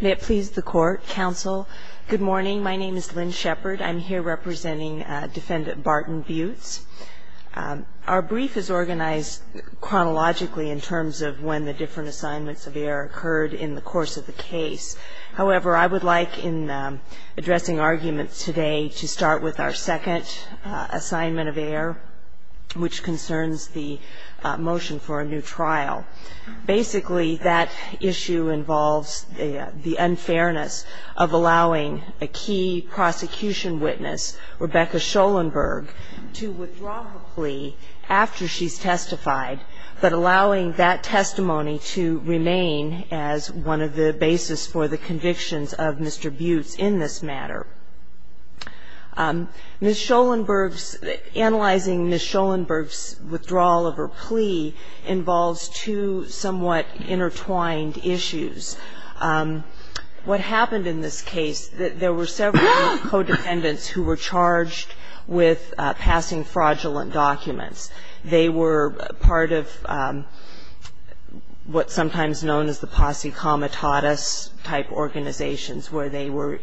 May it please the Court, Counsel. Good morning, my name is Lynn Shepard. I'm here representing Defendant Barton Buhtz. Our brief is organized chronologically in terms of when the different assignments of error occurred in the course of the case. However, I would like in addressing arguments today to start with our second assignment of error, which concerns the motion for a trial. Basically, that issue involves the unfairness of allowing a key prosecution witness, Rebecca Scholenberg, to withdraw her plea after she's testified, but allowing that testimony to remain as one of the basis for the convictions of Mr. Buhtz in this matter. Ms. Scholenberg's – analyzing Ms. Scholenberg's withdrawal of her plea involves two somewhat intertwined issues. What happened in this case, there were several codependents who were charged with passing fraudulent documents. They were part of what's sometimes known as the posse comitatus-type organizations, where they were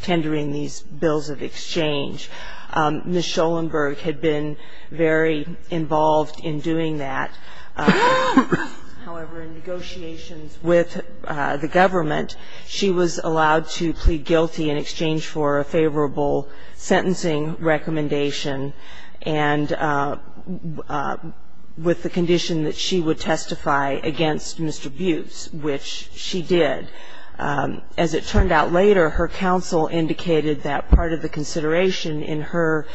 tendering these bills of exchange. Ms. Scholenberg had been very involved in doing that. However, in negotiations with the government, she was allowed to plead guilty in exchange for a favorable which she did. As it turned out later, her counsel indicated that part of the consideration in her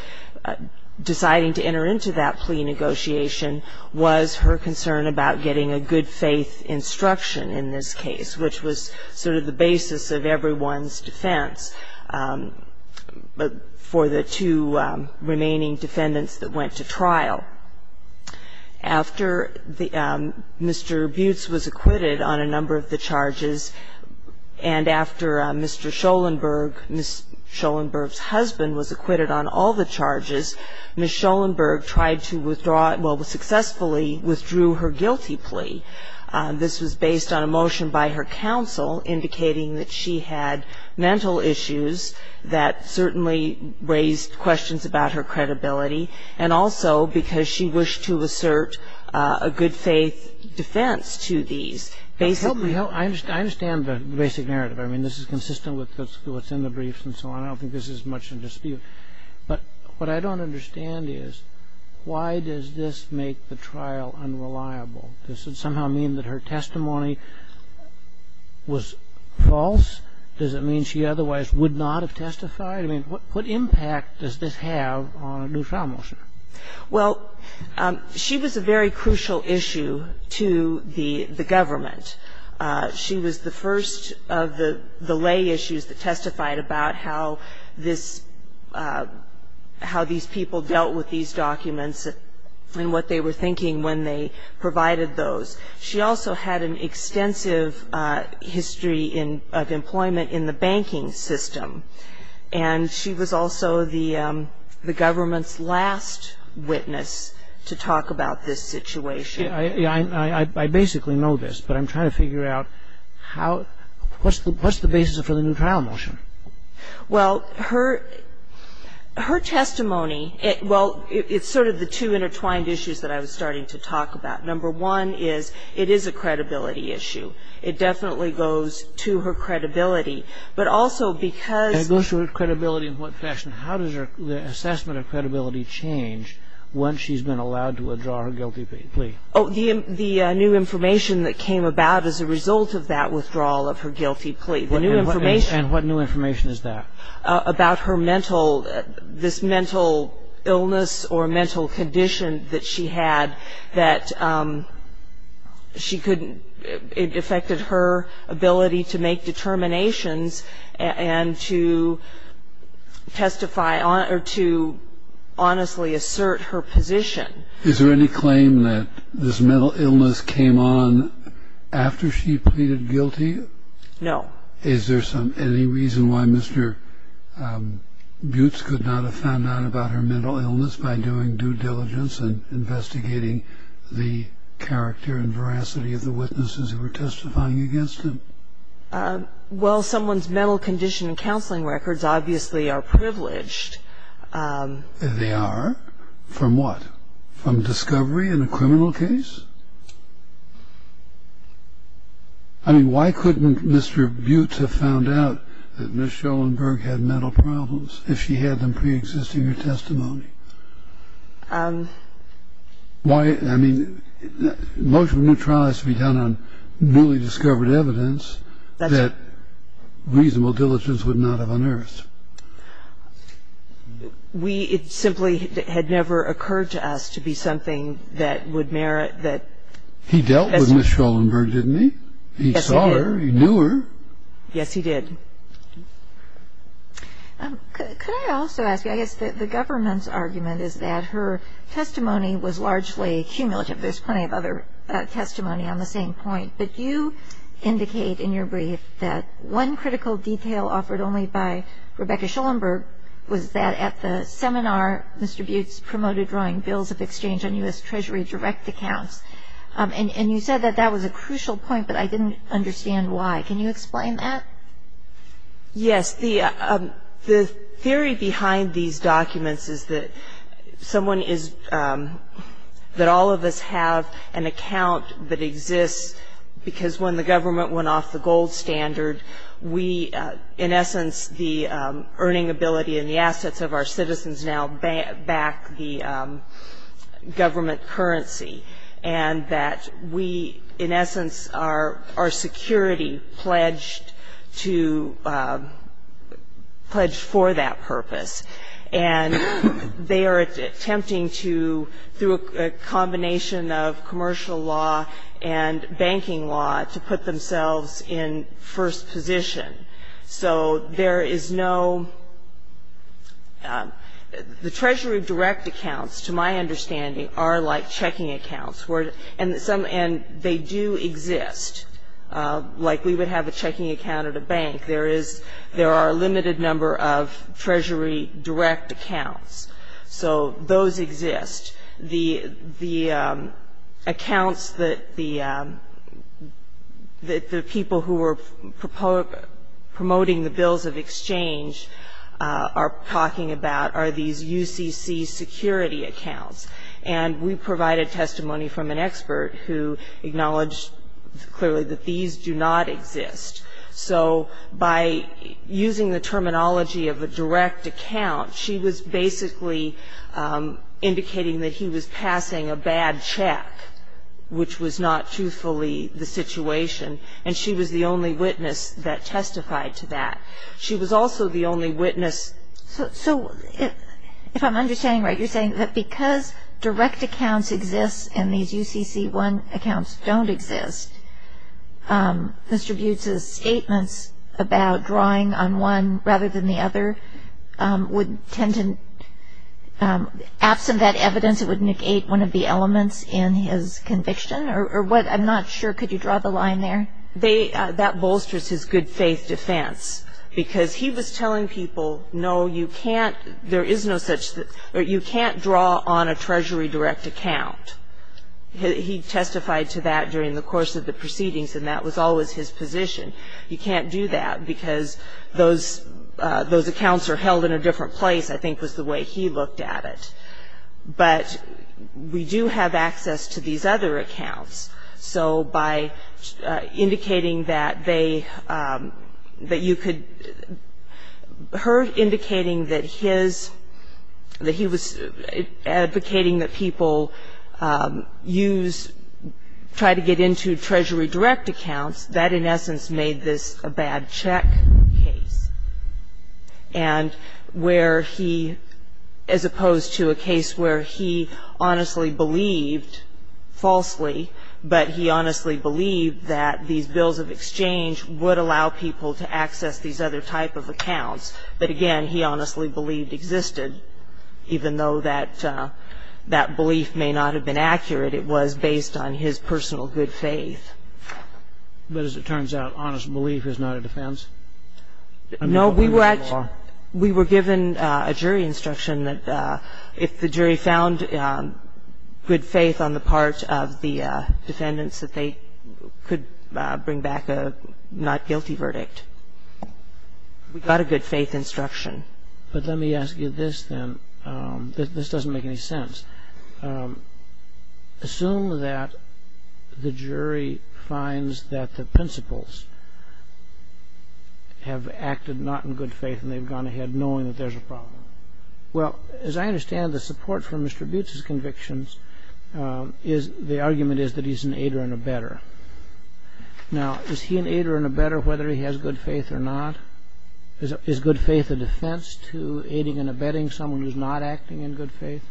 deciding to enter into that plea negotiation was her concern about getting a good-faith instruction in this case, which was sort of the basis of everyone's defense for the two remaining defendants that went to trial. After Mr. Buhtz was acquitted on a number of the charges, and after Mr. Scholenberg – Ms. Scholenberg's husband was acquitted on all the charges, Ms. Scholenberg tried to withdraw – well, successfully withdrew her guilty plea. This was based on a motion by her counsel indicating that she had mental issues that certainly raised questions about her credibility, and also because she wished to assert a good-faith defense to these. Basically – I understand the basic narrative. I mean, this is consistent with what's in the briefs and so on. I don't think this is much of a dispute. But what I don't understand is, why does this make the trial unreliable? Does it somehow mean that her testimony was false? Does it mean she otherwise would not have testified? I mean, what impact does this have on a new trial motion? Well, she was a very crucial issue to the government. She was the first of the lay issues that testified about how this – how these people dealt with these documents and what they were thinking when they provided those. She also had an extensive history of employment in the banking system. And she was also the government's last witness to talk about this situation. I basically know this, but I'm trying to figure out how – what's the basis for the new trial motion? Well, her testimony – well, it's sort of the two intertwined issues that I was starting to talk about. Number one is, it is a credibility issue. It definitely goes to her credibility. But also because – It goes to her credibility in what fashion? How does her – the assessment of credibility change once she's been allowed to withdraw her guilty plea? Oh, the new information that came about as a result of that withdrawal of her guilty plea. The new information – And what new information is that? About her mental – this mental illness or mental condition that she had that she could – it affected her ability to make determinations and to testify – or to honestly assert her position. Is there any claim that this mental illness came on after she pleaded guilty? No. Is there some – any reason why Mr. Buttes could not have found out about her mental illness by doing due diligence and investigating the character and veracity of the witnesses who were testifying against him? Well, someone's mental condition and counseling records obviously are privileged. They are? From what? From discovery in a criminal case? I mean, why couldn't Mr. Buttes have found out that Ms. Schoenberg had mental problems if she had them preexisting her testimony? Why – I mean, most of the new trial has to be done on newly discovered evidence that reasonable diligence would not have unearthed. We – it simply had never occurred to us to be something that would merit that – He dealt with Ms. Schoenberg, didn't he? He saw her. He knew her. Yes, he did. Could I also ask you – I guess the government's argument is that her testimony was largely cumulative. There's plenty of other testimony on the same point. But you indicate in your brief that one critical detail offered only by Rebecca Schoenberg was that at the seminar Mr. Buttes promoted drawing bills of exchange on U.S. Treasury direct accounts. And you said that that was a crucial point, but I didn't understand why. Can you explain that? Yes. The theory behind these documents is that someone is – that all of us have an account that exists because when the government went off the gold standard, we, in essence, the earning ability and the assets of our citizens now back the government currency. And that we, in essence, our security pledged to – pledged for that purpose. And they are attempting to, through a combination of commercial law and banking law, to put themselves in first position. So there is no – the Treasury direct accounts, to my understanding, are like checking accounts. And they do exist. Like we would have a checking account at a bank. There is – there are a limited number of Treasury direct accounts. So those exist. The accounts that the people who are promoting the bills of exchange are talking about are these UCC security accounts. And we provided testimony from an expert who acknowledged clearly that these do not exist. So by using the terminology of a direct account, she was basically indicating that he was passing a bad check, which was not truthfully the situation. And she was the only witness that testified to that. She was also the only witness – So, if I'm understanding right, you're saying that because direct accounts exist and these UCC-1 accounts don't exist, Mr. Butz's statements about drawing on one rather than the other would tend to – absent that evidence, it would negate one of the elements in his conviction? Or what – I'm not sure. Could you draw the line there? That bolsters his good-faith defense. Because he was telling people, no, you can't – there is no such – you can't draw on a Treasury direct account. He testified to that during the course of the proceedings. And that was always his position. You can't do that because those accounts are held in a different place, I think was the way he looked at it. But we do have access to these other accounts. So by indicating that they – that you could – her indicating that his – that he was advocating that people use – try to get into Treasury direct accounts, that in essence made this a bad check case. And where he – as opposed to a case where he honestly believed, falsely, but he honestly believed that these bills of exchange would allow people to access these other type of accounts. But again, he honestly believed existed, even though that belief may not have been accurate. It was based on his personal good faith. But as it turns out, honest belief is not a defense? No, we were – we were given a jury instruction that if the jury found good faith on the part of the defendants, that they could bring back a not guilty verdict. We got a good faith instruction. But let me ask you this then. This doesn't make any sense. Assume that the jury finds that the principals have acted not in good faith and they've gone ahead knowing that there's a problem. Well, as I understand the support for Mr. Butz's convictions, the argument is that he's an aider and a better. Now, is he an aider and a better whether he has good faith or not? Is good faith a defense to aiding and abetting someone who's not acting in good faith?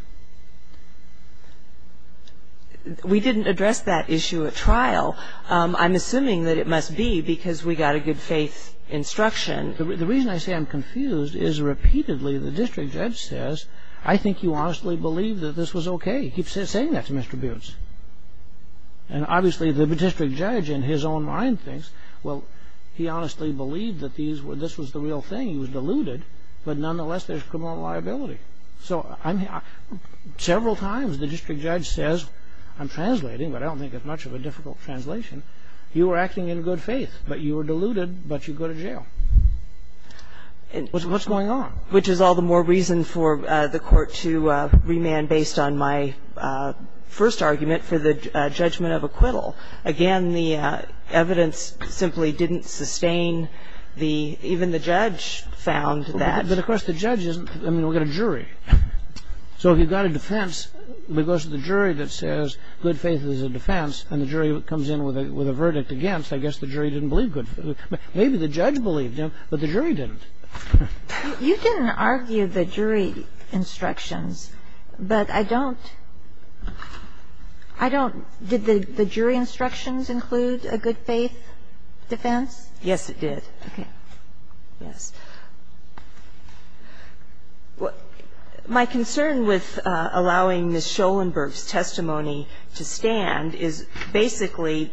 We didn't address that issue at trial. I'm assuming that it must be because we got a good faith instruction. The reason I say I'm confused is repeatedly the district judge says, I think you honestly believed that this was okay. He keeps saying that to Mr. Butz. And obviously the district judge in his own mind thinks, well, he honestly believed that this was the real thing. He was deluded. But nonetheless, there's criminal liability. So several times the district judge says, I'm translating, but I don't think it's much of a difficult translation. You were acting in good faith, but you were deluded, but you go to jail. What's going on? Which is all the more reason for the court to remand based on my first argument for the I mean, the evidence simply didn't sustain the, even the judge found that. But of course the judge isn't, I mean, we've got a jury. So if you've got a defense, it goes to the jury that says, good faith is a defense. And the jury comes in with a, with a verdict against, I guess the jury didn't believe good faith. Maybe the judge believed him, but the jury didn't. You didn't argue the jury instructions, but I don't, I don't. Did the jury instructions include a good faith defense? Yes, it did. Okay. Yes. Well, my concern with allowing Ms. Schoenberg's testimony to stand is basically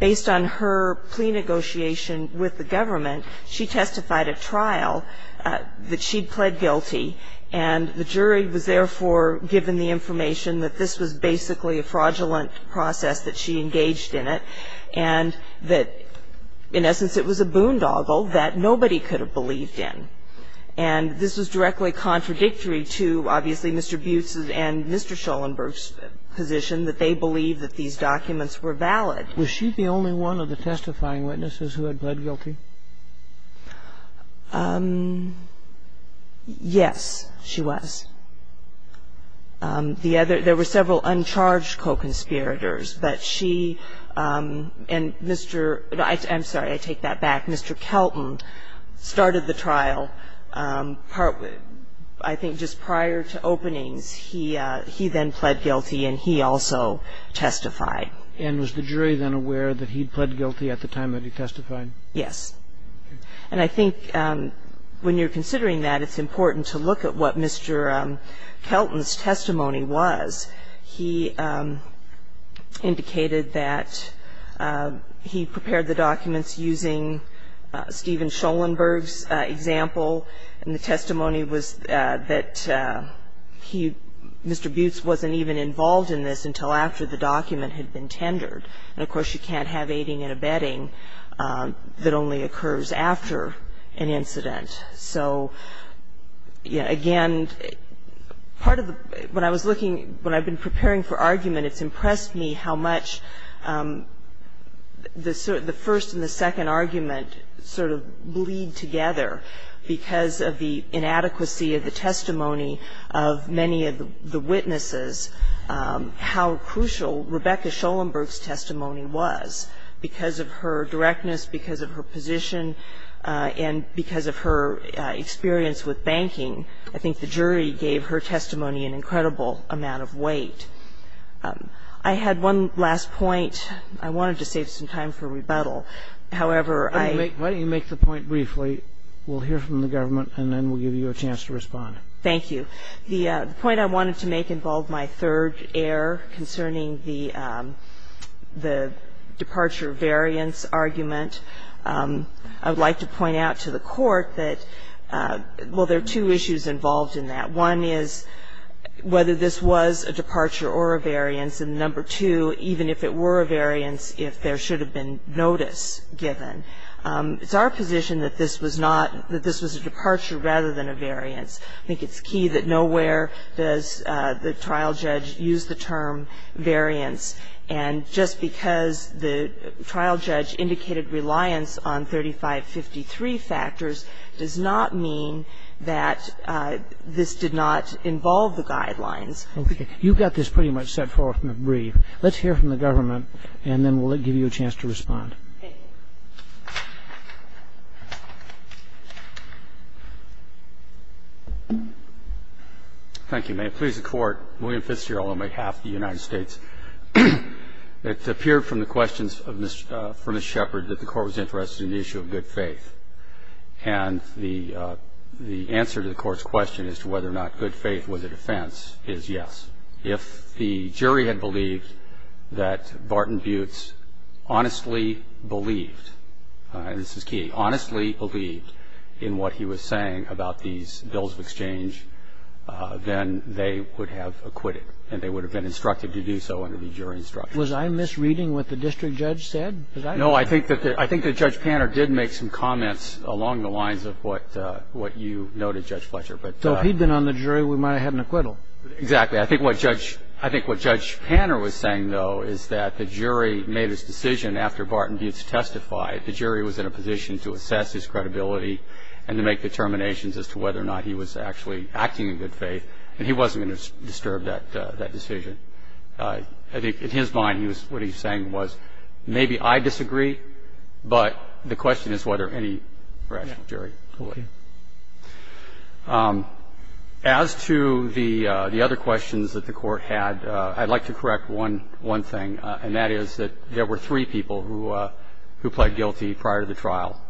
based on her plea negotiation with the government, she testified at trial that she pled guilty, and the jury was therefore given the information that this was basically a fraudulent process, that she engaged in it, and that in essence it was a boondoggle that nobody could have believed in. And this was directly contradictory to obviously Mr. Butz's and Mr. Schoenberg's position that they believed that these documents were valid. Was she the only one of the testifying witnesses who had pled guilty? Yes, she was. The other, there were several uncharged co-conspirators, but she and Mr. I'm sorry, I take that back. Mr. Kelton started the trial, I think just prior to openings, he then pled guilty and he also testified. And was the jury then aware that he'd pled guilty at the time that he testified? Yes. And I think when you're considering that, it's important to look at what Mr. Kelton's testimony was. He indicated that he prepared the documents using Steven Schoenberg's example, and the testimony was that he, Mr. Butz wasn't even involved in this until after the document had been tendered. And of course, you can't have aiding and abetting that only occurs after an incident. So again, part of the, when I was looking, when I've been preparing for argument, it's impressed me how much the first and the second argument sort of bleed together because of the inadequacy of the testimony of many of the witnesses, how crucial Rebecca Schoenberg's testimony was because of her directness, because of her position, and because of her experience with banking. I think the jury gave her testimony an incredible amount of weight. I had one last point. I wanted to save some time for rebuttal. However, I --- Why don't you make the point briefly, we'll hear from the government, and then we'll give you a chance to respond. Thank you. The point I wanted to make involved my third error concerning the departure variance argument. I would like to point out to the court that, well, there are two issues involved in that. One is whether this was a departure or a variance, and number two, even if it were a variance, if there should have been notice given. It's our position that this was not, that this was a departure rather than a variance. I think it's key that nowhere does the trial judge use the term variance, and just because the trial judge indicated reliance on 3553 factors does not mean that this did not involve the guidelines. Okay. You've got this pretty much set forth in the brief. Let's hear from the government, and then we'll give you a chance to respond. Thank you. May it please the Court, William Fitzgerald on behalf of the United States. It appeared from the questions for Ms. Shepard that the Court was interested in the issue of good faith, and the answer to the Court's question as to whether or not good faith was a defense is yes. If the jury had believed that Barton Buehler was a judge, and if the jury had honestly believed, and this is key, honestly believed in what he was saying about these bills of exchange, then they would have acquitted, and they would have been instructed to do so under the jury instruction. Was I misreading what the district judge said? No, I think that Judge Panner did make some comments along the lines of what you noted, Judge Fletcher. So if he'd been on the jury, we might have had an acquittal? Exactly. I think what Judge Panner was saying, though, is that the jury made its decision after Barton Buehler testified. The jury was in a position to assess his credibility and to make determinations as to whether or not he was actually acting in good faith, and he wasn't going to disturb that decision. I think in his mind, what he was saying was, maybe I disagree, but the question is whether any rational jury I think that's what he was saying. Thank you. As to the other questions that the Court had, I'd like to correct one thing, and that is that there were three people who pled guilty prior to the trial.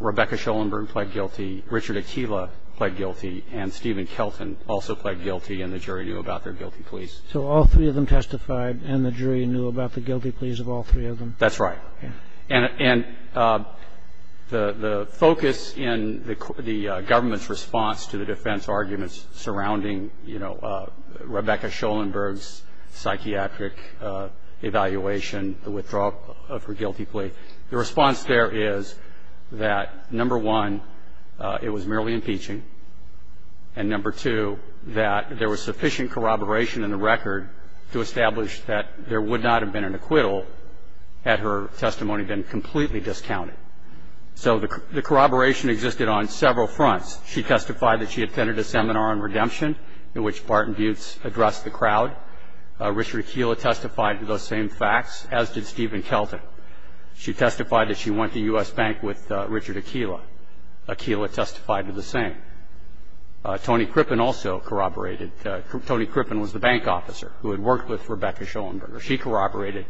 Rebecca Schoenberg pled guilty, Richard Akila pled guilty, and Stephen Kelton also pled guilty, and the jury knew about their guilty pleas. So all three of them testified, and the jury knew about the guilty pleas of all three of them? That's right. Okay. And the focus in the government's response to the defense arguments surrounding, you know, Rebecca Schoenberg's psychiatric evaluation, the withdrawal of her guilty plea, the response there is that, number one, it was merely impeaching, and, number two, that there was sufficient corroboration in the record to establish that there would not have been an acquittal had her testimony been completely discounted. So the corroboration existed on several fronts. She testified that she attended a seminar on redemption in which Barton Buttes addressed the crowd. Richard Akila testified to those same facts, as did Stephen Kelton. She testified that she went to U.S. Bank with Richard Akila. Akila testified to the same. Tony Crippen also corroborated. Tony Crippen was the bank officer who had worked with Rebecca Schoenberg. She corroborated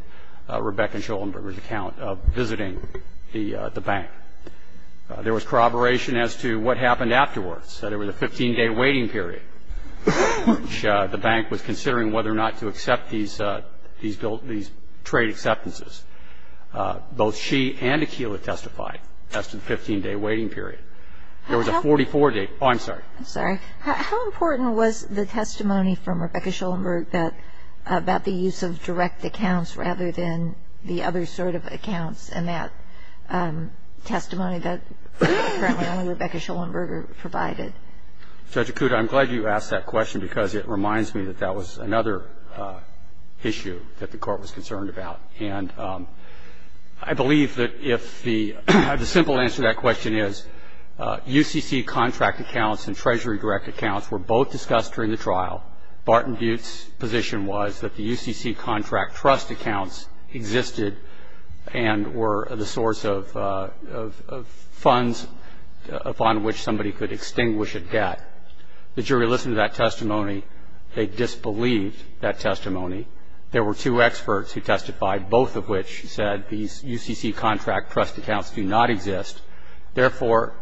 Rebecca Schoenberg's account of visiting the bank. There was corroboration as to what happened afterwards. There was a 15-day waiting period which the bank was considering whether or not to accept these trade acceptances. Both she and Akila testified as to the 15-day waiting period. There was a 44-day. Oh, I'm sorry. I'm sorry. How important was the testimony from Rebecca Schoenberg about the use of direct accounts rather than the other sort of accounts in that testimony that apparently only Rebecca Schoenberg provided? Judge Acuda, I'm glad you asked that question because it reminds me that that was another issue that the Court was concerned about. And I believe that if the simple answer to that question is UCC contract accounts and Treasury direct accounts were both discussed during the trial. Barton Butte's position was that the UCC contract trust accounts existed and were the source of funds upon which somebody could extinguish a debt. The jury listened to that testimony. They disbelieved that testimony. There were two experts who testified, both of which said these UCC contract trust accounts do not exist. Therefore,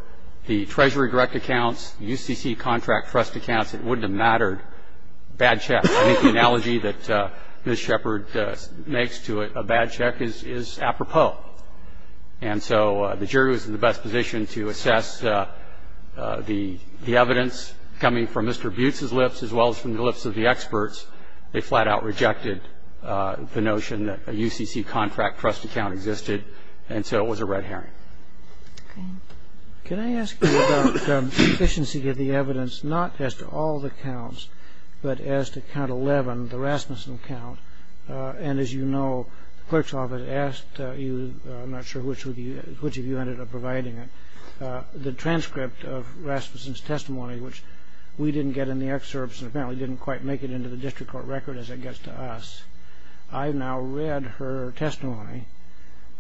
the Treasury direct accounts, UCC contract trust accounts, it wouldn't have mattered, bad check. I think the analogy that Ms. Shepard makes to a bad check is apropos. And so the jury was in the best position to assess the evidence coming from Mr. Butte's lips as well as from the lips of the experts. They flat out rejected the notion that a UCC contract trust account existed. And so it was a red herring. Okay. Can I ask you about sufficiency of the evidence, not as to all the counts, but as to count 11, the Rasmussen count? And as you know, the clerk's office asked you, I'm not sure which of you ended up providing it, the transcript of Rasmussen's testimony, which we didn't get in the excerpts and apparently didn't quite make it into the district court record as it gets to us. I've now read her testimony.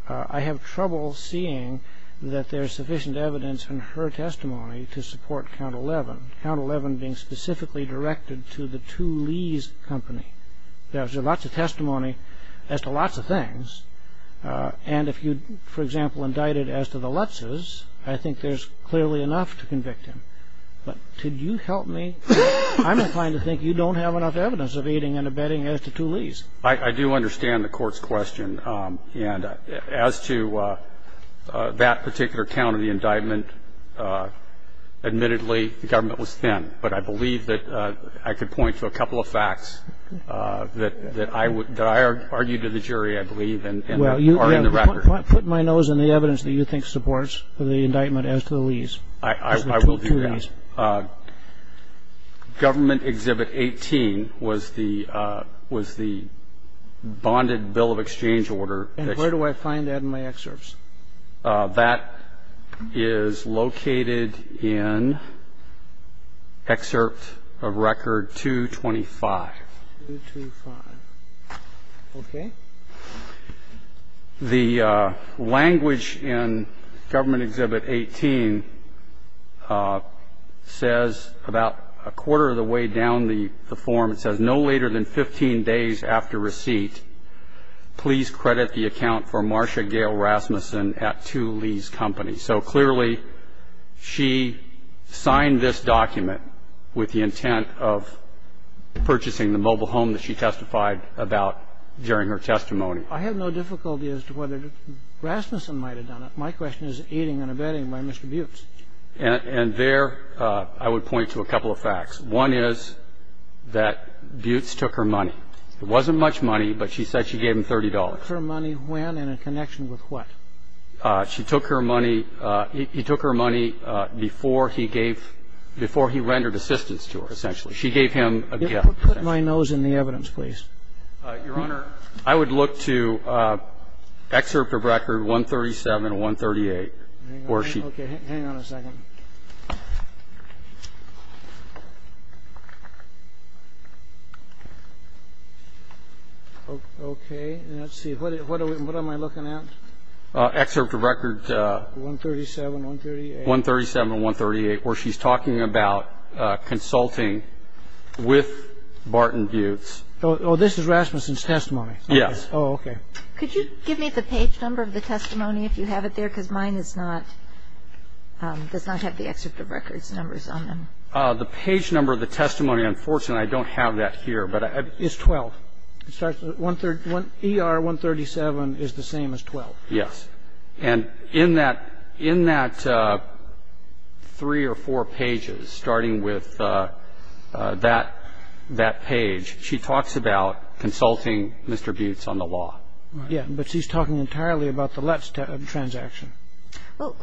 I have trouble seeing that there's sufficient evidence in her testimony to support count 11, count 11 being specifically directed to the 2 Lees Company. There's lots of testimony as to lots of things. And if you, for example, indicted as to the Lutzes, I think there's clearly enough to convict him. But could you help me? I'm inclined to think you don't have enough evidence of aiding and abetting as to 2 Lees. I do understand the Court's question. And as to that particular count of the indictment, admittedly, the government was thin. But I believe that I could point to a couple of facts that I argued to the jury, I believe, and are in the record. Well, put my nose in the evidence that you think supports the indictment as to the Lees. I will do that. Government Exhibit 18 was the bonded bill of exchange order. And where do I find that in my excerpts? That is located in Excerpt of Record 225. 225. Okay. The language in Government Exhibit 18 says about a quarter of the way down the form, it says, no later than 15 days after receipt, please credit the account for Marcia Gail Rasmussen at 2 Lees Company. So clearly, she signed this document with the intent of purchasing the mobile home that she testified about during her testimony. I have no difficulty as to whether Rasmussen might have done it. My question is aiding and abetting by Mr. Buttes. And there I would point to a couple of facts. One is that Buttes took her money. It wasn't much money, but she said she gave him $30. Took her money when and in connection with what? She took her money. He took her money before he gave, before he rendered assistance to her, essentially. She gave him a gift. Put my nose in the evidence, please. Your Honor, I would look to Excerpt of Record 137 and 138. Okay. Hang on a second. Okay. Let's see. What am I looking at? Excerpt of Record. 137, 138. 137, 138, where she's talking about consulting with Barton Buttes. Oh, this is Rasmussen's testimony. Yes. Oh, okay. Could you give me the page number of the testimony, if you have it there? Because mine is not – does not have the excerpt of record's numbers on them. The page number of the testimony, unfortunately, I don't have that here, but I have it. It's 12. ER 137 is the same as 12. Yes. And in that three or four pages, starting with that page, she talks about consulting Mr. Buttes on the law. Yeah, but she's talking entirely about the Lutz transaction. Well,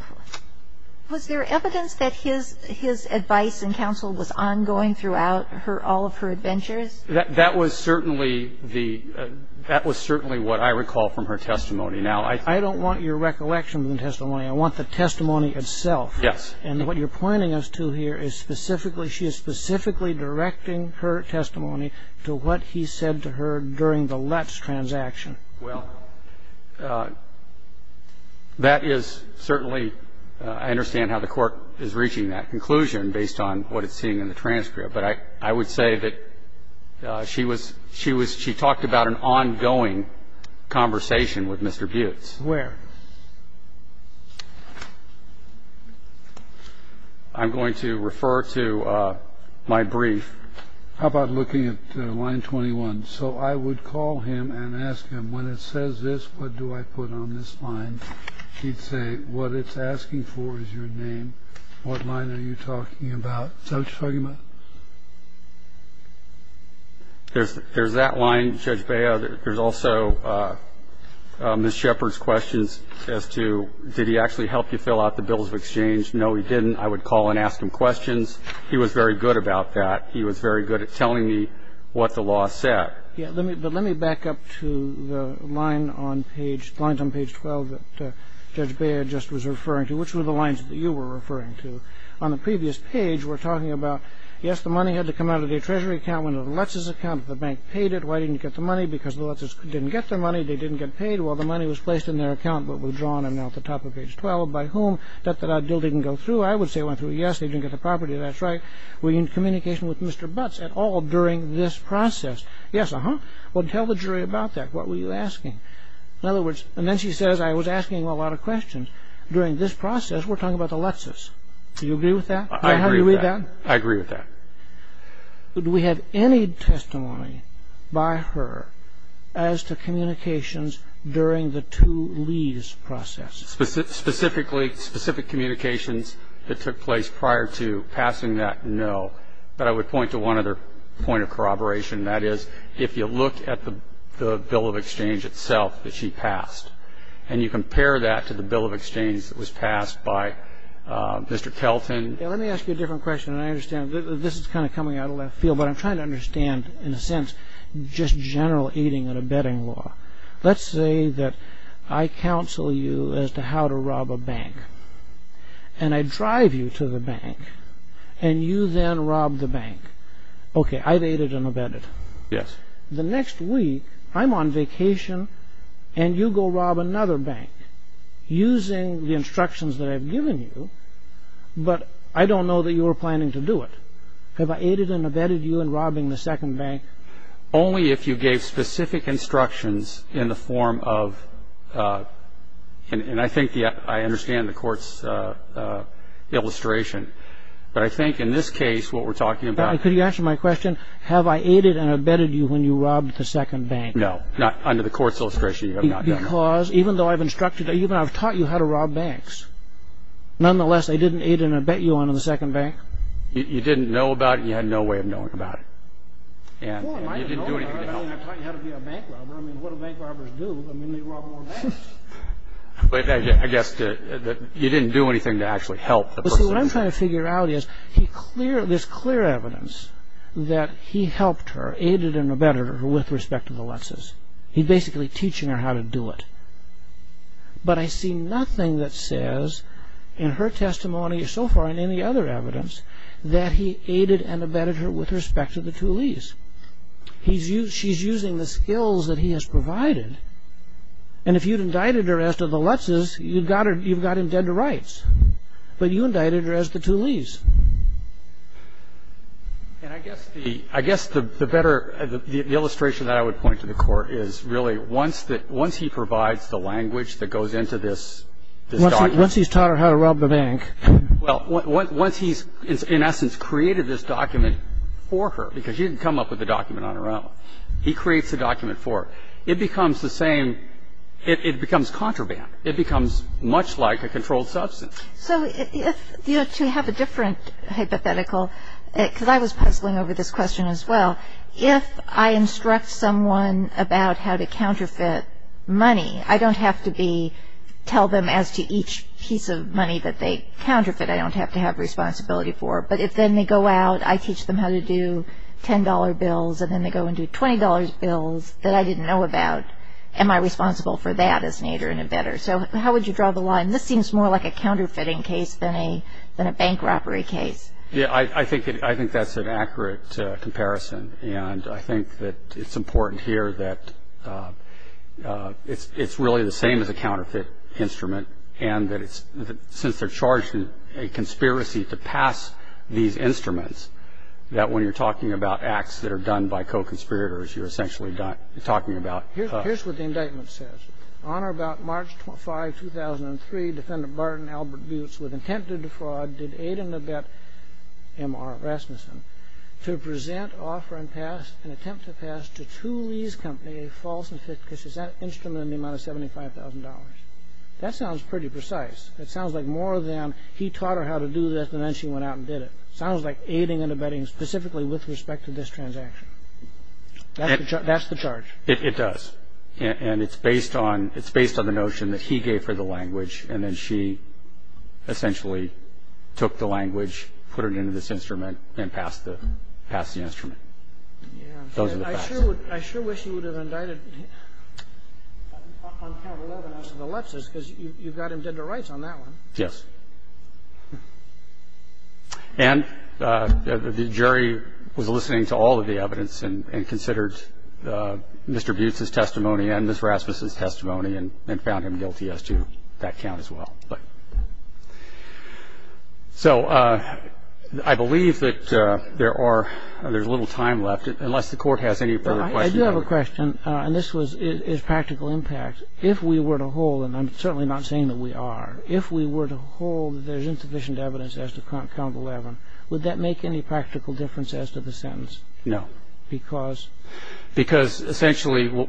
was there evidence that his advice and counsel was ongoing throughout all of her adventures? That was certainly the – that was certainly what I recall from her testimony. Now, I don't want your recollection of the testimony. I want the testimony itself. Yes. And what you're pointing us to here is specifically – she is specifically directing her testimony to what he said to her during the Lutz transaction. Well, that is certainly – I understand how the Court is reaching that conclusion based on what it's seeing in the transcript. But I would say that she was – she was – she talked about an ongoing conversation with Mr. Buttes. Where? I'm going to refer to my brief. How about looking at line 21? So I would call him and ask him, when it says this, what do I put on this line? He'd say, what it's asking for is your name. What line are you talking about? Is that what you're talking about? There's that line, Judge Bea. There's also Ms. Shepard's questions as to, did he actually help you fill out the bills of exchange? No, he didn't. I would call and ask him questions. He was very good about that. He was very good at telling me what the law said. Yes. But let me back up to the line on page – lines on page 12 that Judge Bea just was referring to. Which were the lines that you were referring to? On the previous page, we're talking about, yes, the money had to come out of the Treasury account. Went to the Lutses account. The bank paid it. Why didn't you get the money? Because the Lutses didn't get their money. They didn't get paid. Well, the money was placed in their account but withdrawn. I'm now at the top of page 12. By whom? Debt that I didn't go through. I would say I went through. Yes, they didn't get the property. That's right. Were you in communication with Mr. Buttes at all during this process? Yes. Uh-huh. Well, tell the jury about that. What were you asking? In other words – and then she says, I was asking a lot of questions. During this process, we're talking about the Lutses. Do you agree with that? I agree with that. Is that how you read that? I agree with that. Do we have any testimony by her as to communications during the two-lease process? Specifically, specific communications that took place prior to passing that, no. But I would point to one other point of corroboration. That is, if you look at the bill of exchange itself that she passed and you compare that to the bill of exchange that was passed by Mr. Kelton – Let me ask you a different question. I understand this is kind of coming out of left field, but I'm trying to understand, in a sense, just general aiding and abetting law. Let's say that I counsel you as to how to rob a bank, and I drive you to the bank, and you then rob the bank. Okay, I've aided and abetted. Yes. The next week, I'm on vacation, and you go rob another bank using the instructions that I've given you, but I don't know that you were planning to do it. Have I aided and abetted you in robbing the second bank? Only if you gave specific instructions in the form of – and I think I understand the Court's illustration. But I think in this case, what we're talking about – No, under the Court's illustration, you have not done that. Because even though I've taught you how to rob banks, nonetheless, I didn't aid and abet you on the second bank? You didn't know about it, and you had no way of knowing about it. And you didn't do anything to help. Well, I might have known about it, and I've taught you how to be a bank robber. I mean, what do bank robbers do? I mean, they rob more banks. I guess you didn't do anything to actually help the person. You see, what I'm trying to figure out is this clear evidence that he helped her, aided and abetted her with respect to the Lutzes. He's basically teaching her how to do it. But I see nothing that says in her testimony, or so far in any other evidence, that he aided and abetted her with respect to the Thulees. She's using the skills that he has provided. And if you'd indicted her as to the Lutzes, you've got him dead to rights. But you indicted her as to the Thulees. And I guess the better illustration that I would point to the Court is really once he provides the language that goes into this document. Once he's taught her how to rob the bank. Well, once he's, in essence, created this document for her, because she didn't come up with the document on her own. He creates the document for her. It becomes the same. It becomes contraband. It becomes much like a controlled substance. So to have a different hypothetical, because I was puzzling over this question as well, if I instruct someone about how to counterfeit money, I don't have to tell them as to each piece of money that they counterfeit. I don't have to have responsibility for it. But if then they go out, I teach them how to do $10 bills, and then they go and do $20 bills that I didn't know about, am I responsible for that as an aider and abetter? So how would you draw the line? This seems more like a counterfeiting case than a bank robbery case. Yeah, I think that's an accurate comparison. And I think that it's important here that it's really the same as a counterfeit instrument, and that since they're charged in a conspiracy to pass these instruments, that when you're talking about acts that are done by co-conspirators, you're essentially talking about ---- Here's what the indictment says. On or about March 5, 2003, Defendant Barton Albert Butz with intent to defraud did aid and abet M.R. Rasmussen to present, offer, and attempt to pass to Thule's company a false and fictitious instrument in the amount of $75,000. That sounds pretty precise. It sounds like more than he taught her how to do this, and then she went out and did it. It sounds like aiding and abetting specifically with respect to this transaction. That's the charge. It does. And it's based on the notion that he gave her the language, and then she essentially took the language, put it into this instrument, and passed the instrument. Those are the facts. I sure wish you would have indicted him on count 11, as the left says, because you've got him dead to rights on that one. Yes. And the jury was listening to all of the evidence and considered Mr. Butz's testimony and Ms. Rasmussen's testimony and found him guilty as to that count as well. So I believe that there's little time left, unless the Court has any further questions. I do have a question, and this is practical impact. If we were to hold, and I'm certainly not saying that we are, if we were to hold that there's insufficient evidence as to count 11, would that make any practical difference as to the sentence? No. Because? Because essentially what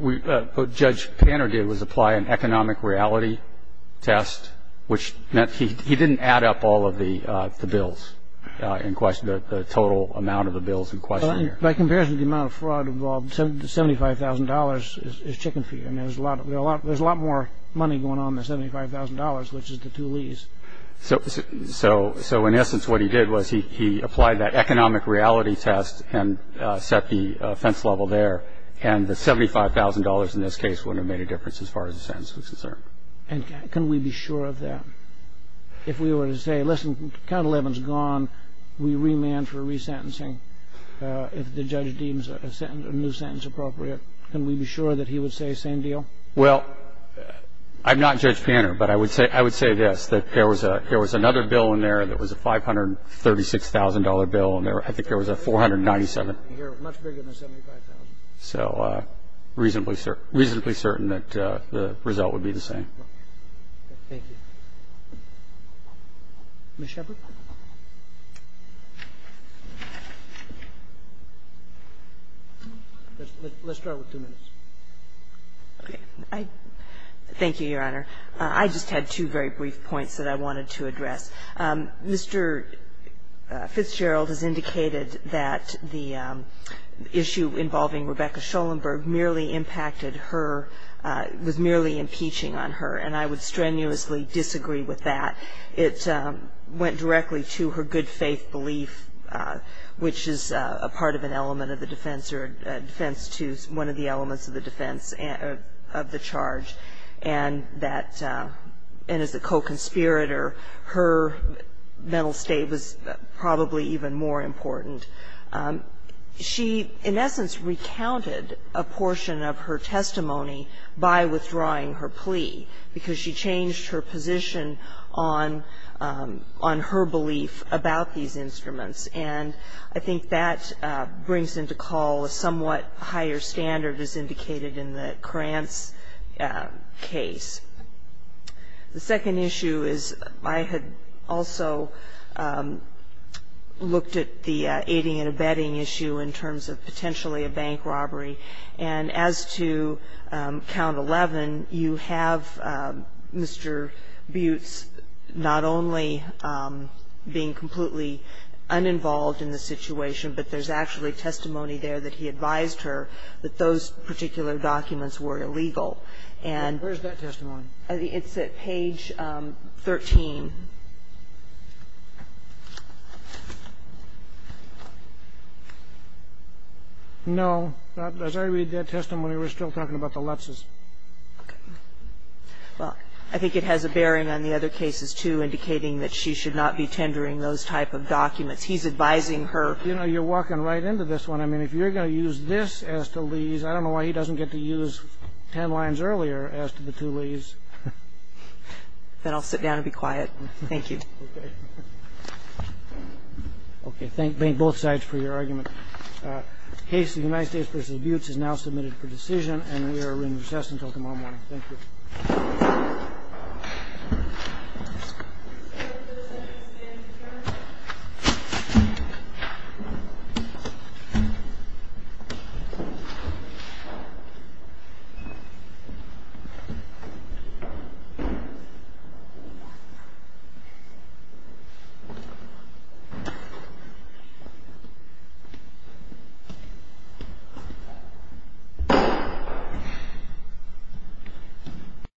Judge Panner did was apply an economic reality test, which meant he didn't add up all of the bills in question, the total amount of the bills in question. By comparison, the amount of fraud involved, $75,000 is chicken feed. I mean, there's a lot more money going on than $75,000, which is the two lees. So in essence what he did was he applied that economic reality test and set the offense level there, and the $75,000 in this case wouldn't have made a difference as far as the sentence was concerned. And can we be sure of that? If we were to say, listen, count 11 is gone, we remand for resentencing if the judge deems a new sentence appropriate, can we be sure that he would say same deal? Well, I'm not Judge Panner, but I would say this, that there was another bill in there that was a $536,000 bill, and I think there was a $497,000. Much bigger than the $75,000. So reasonably certain that the result would be the same. Okay. Thank you. Ms. Shepard? Let's start with two minutes. Okay. Thank you, Your Honor. I just had two very brief points that I wanted to address. Mr. Fitzgerald has indicated that the issue involving Rebecca Schoenberg merely impacted her, was merely impeaching on her, and I would strenuously disagree with that. It went directly to her good faith belief, which is a part of an element of the defense, or a defense to one of the elements of the defense of the charge, and that, and as a co-conspirator, her mental state was probably even more important. She, in essence, recounted a portion of her testimony by withdrawing her plea, because she changed her position on her belief about these instruments, and I think that brings into call a somewhat higher standard, as indicated in the Krantz case. The second issue is I had also looked at the aiding and abetting issue in terms of potentially a bank robbery, and as to Count 11, you have Mr. Butte's not only being completely uninvolved in the situation, but there's actually testimony there that he advised her that those particular documents were illegal. And it's at page 13. No. As I read that testimony, we're still talking about the Lutzes. Okay. Well, I think it has a bearing on the other cases, too, indicating that she should not be tendering those type of documents. He's advising her. You know, you're walking right into this one. I mean, if you're going to use this as to Lee's, I don't know why he doesn't get to use ten lines earlier as to the two Lee's. Then I'll sit down and be quiet. Thank you. Okay. Okay. Thank both sides for your argument. The case of the United States v. Buttes is now submitted for decision, and we are in recess until tomorrow morning. Thank you. Thank you. Thank you.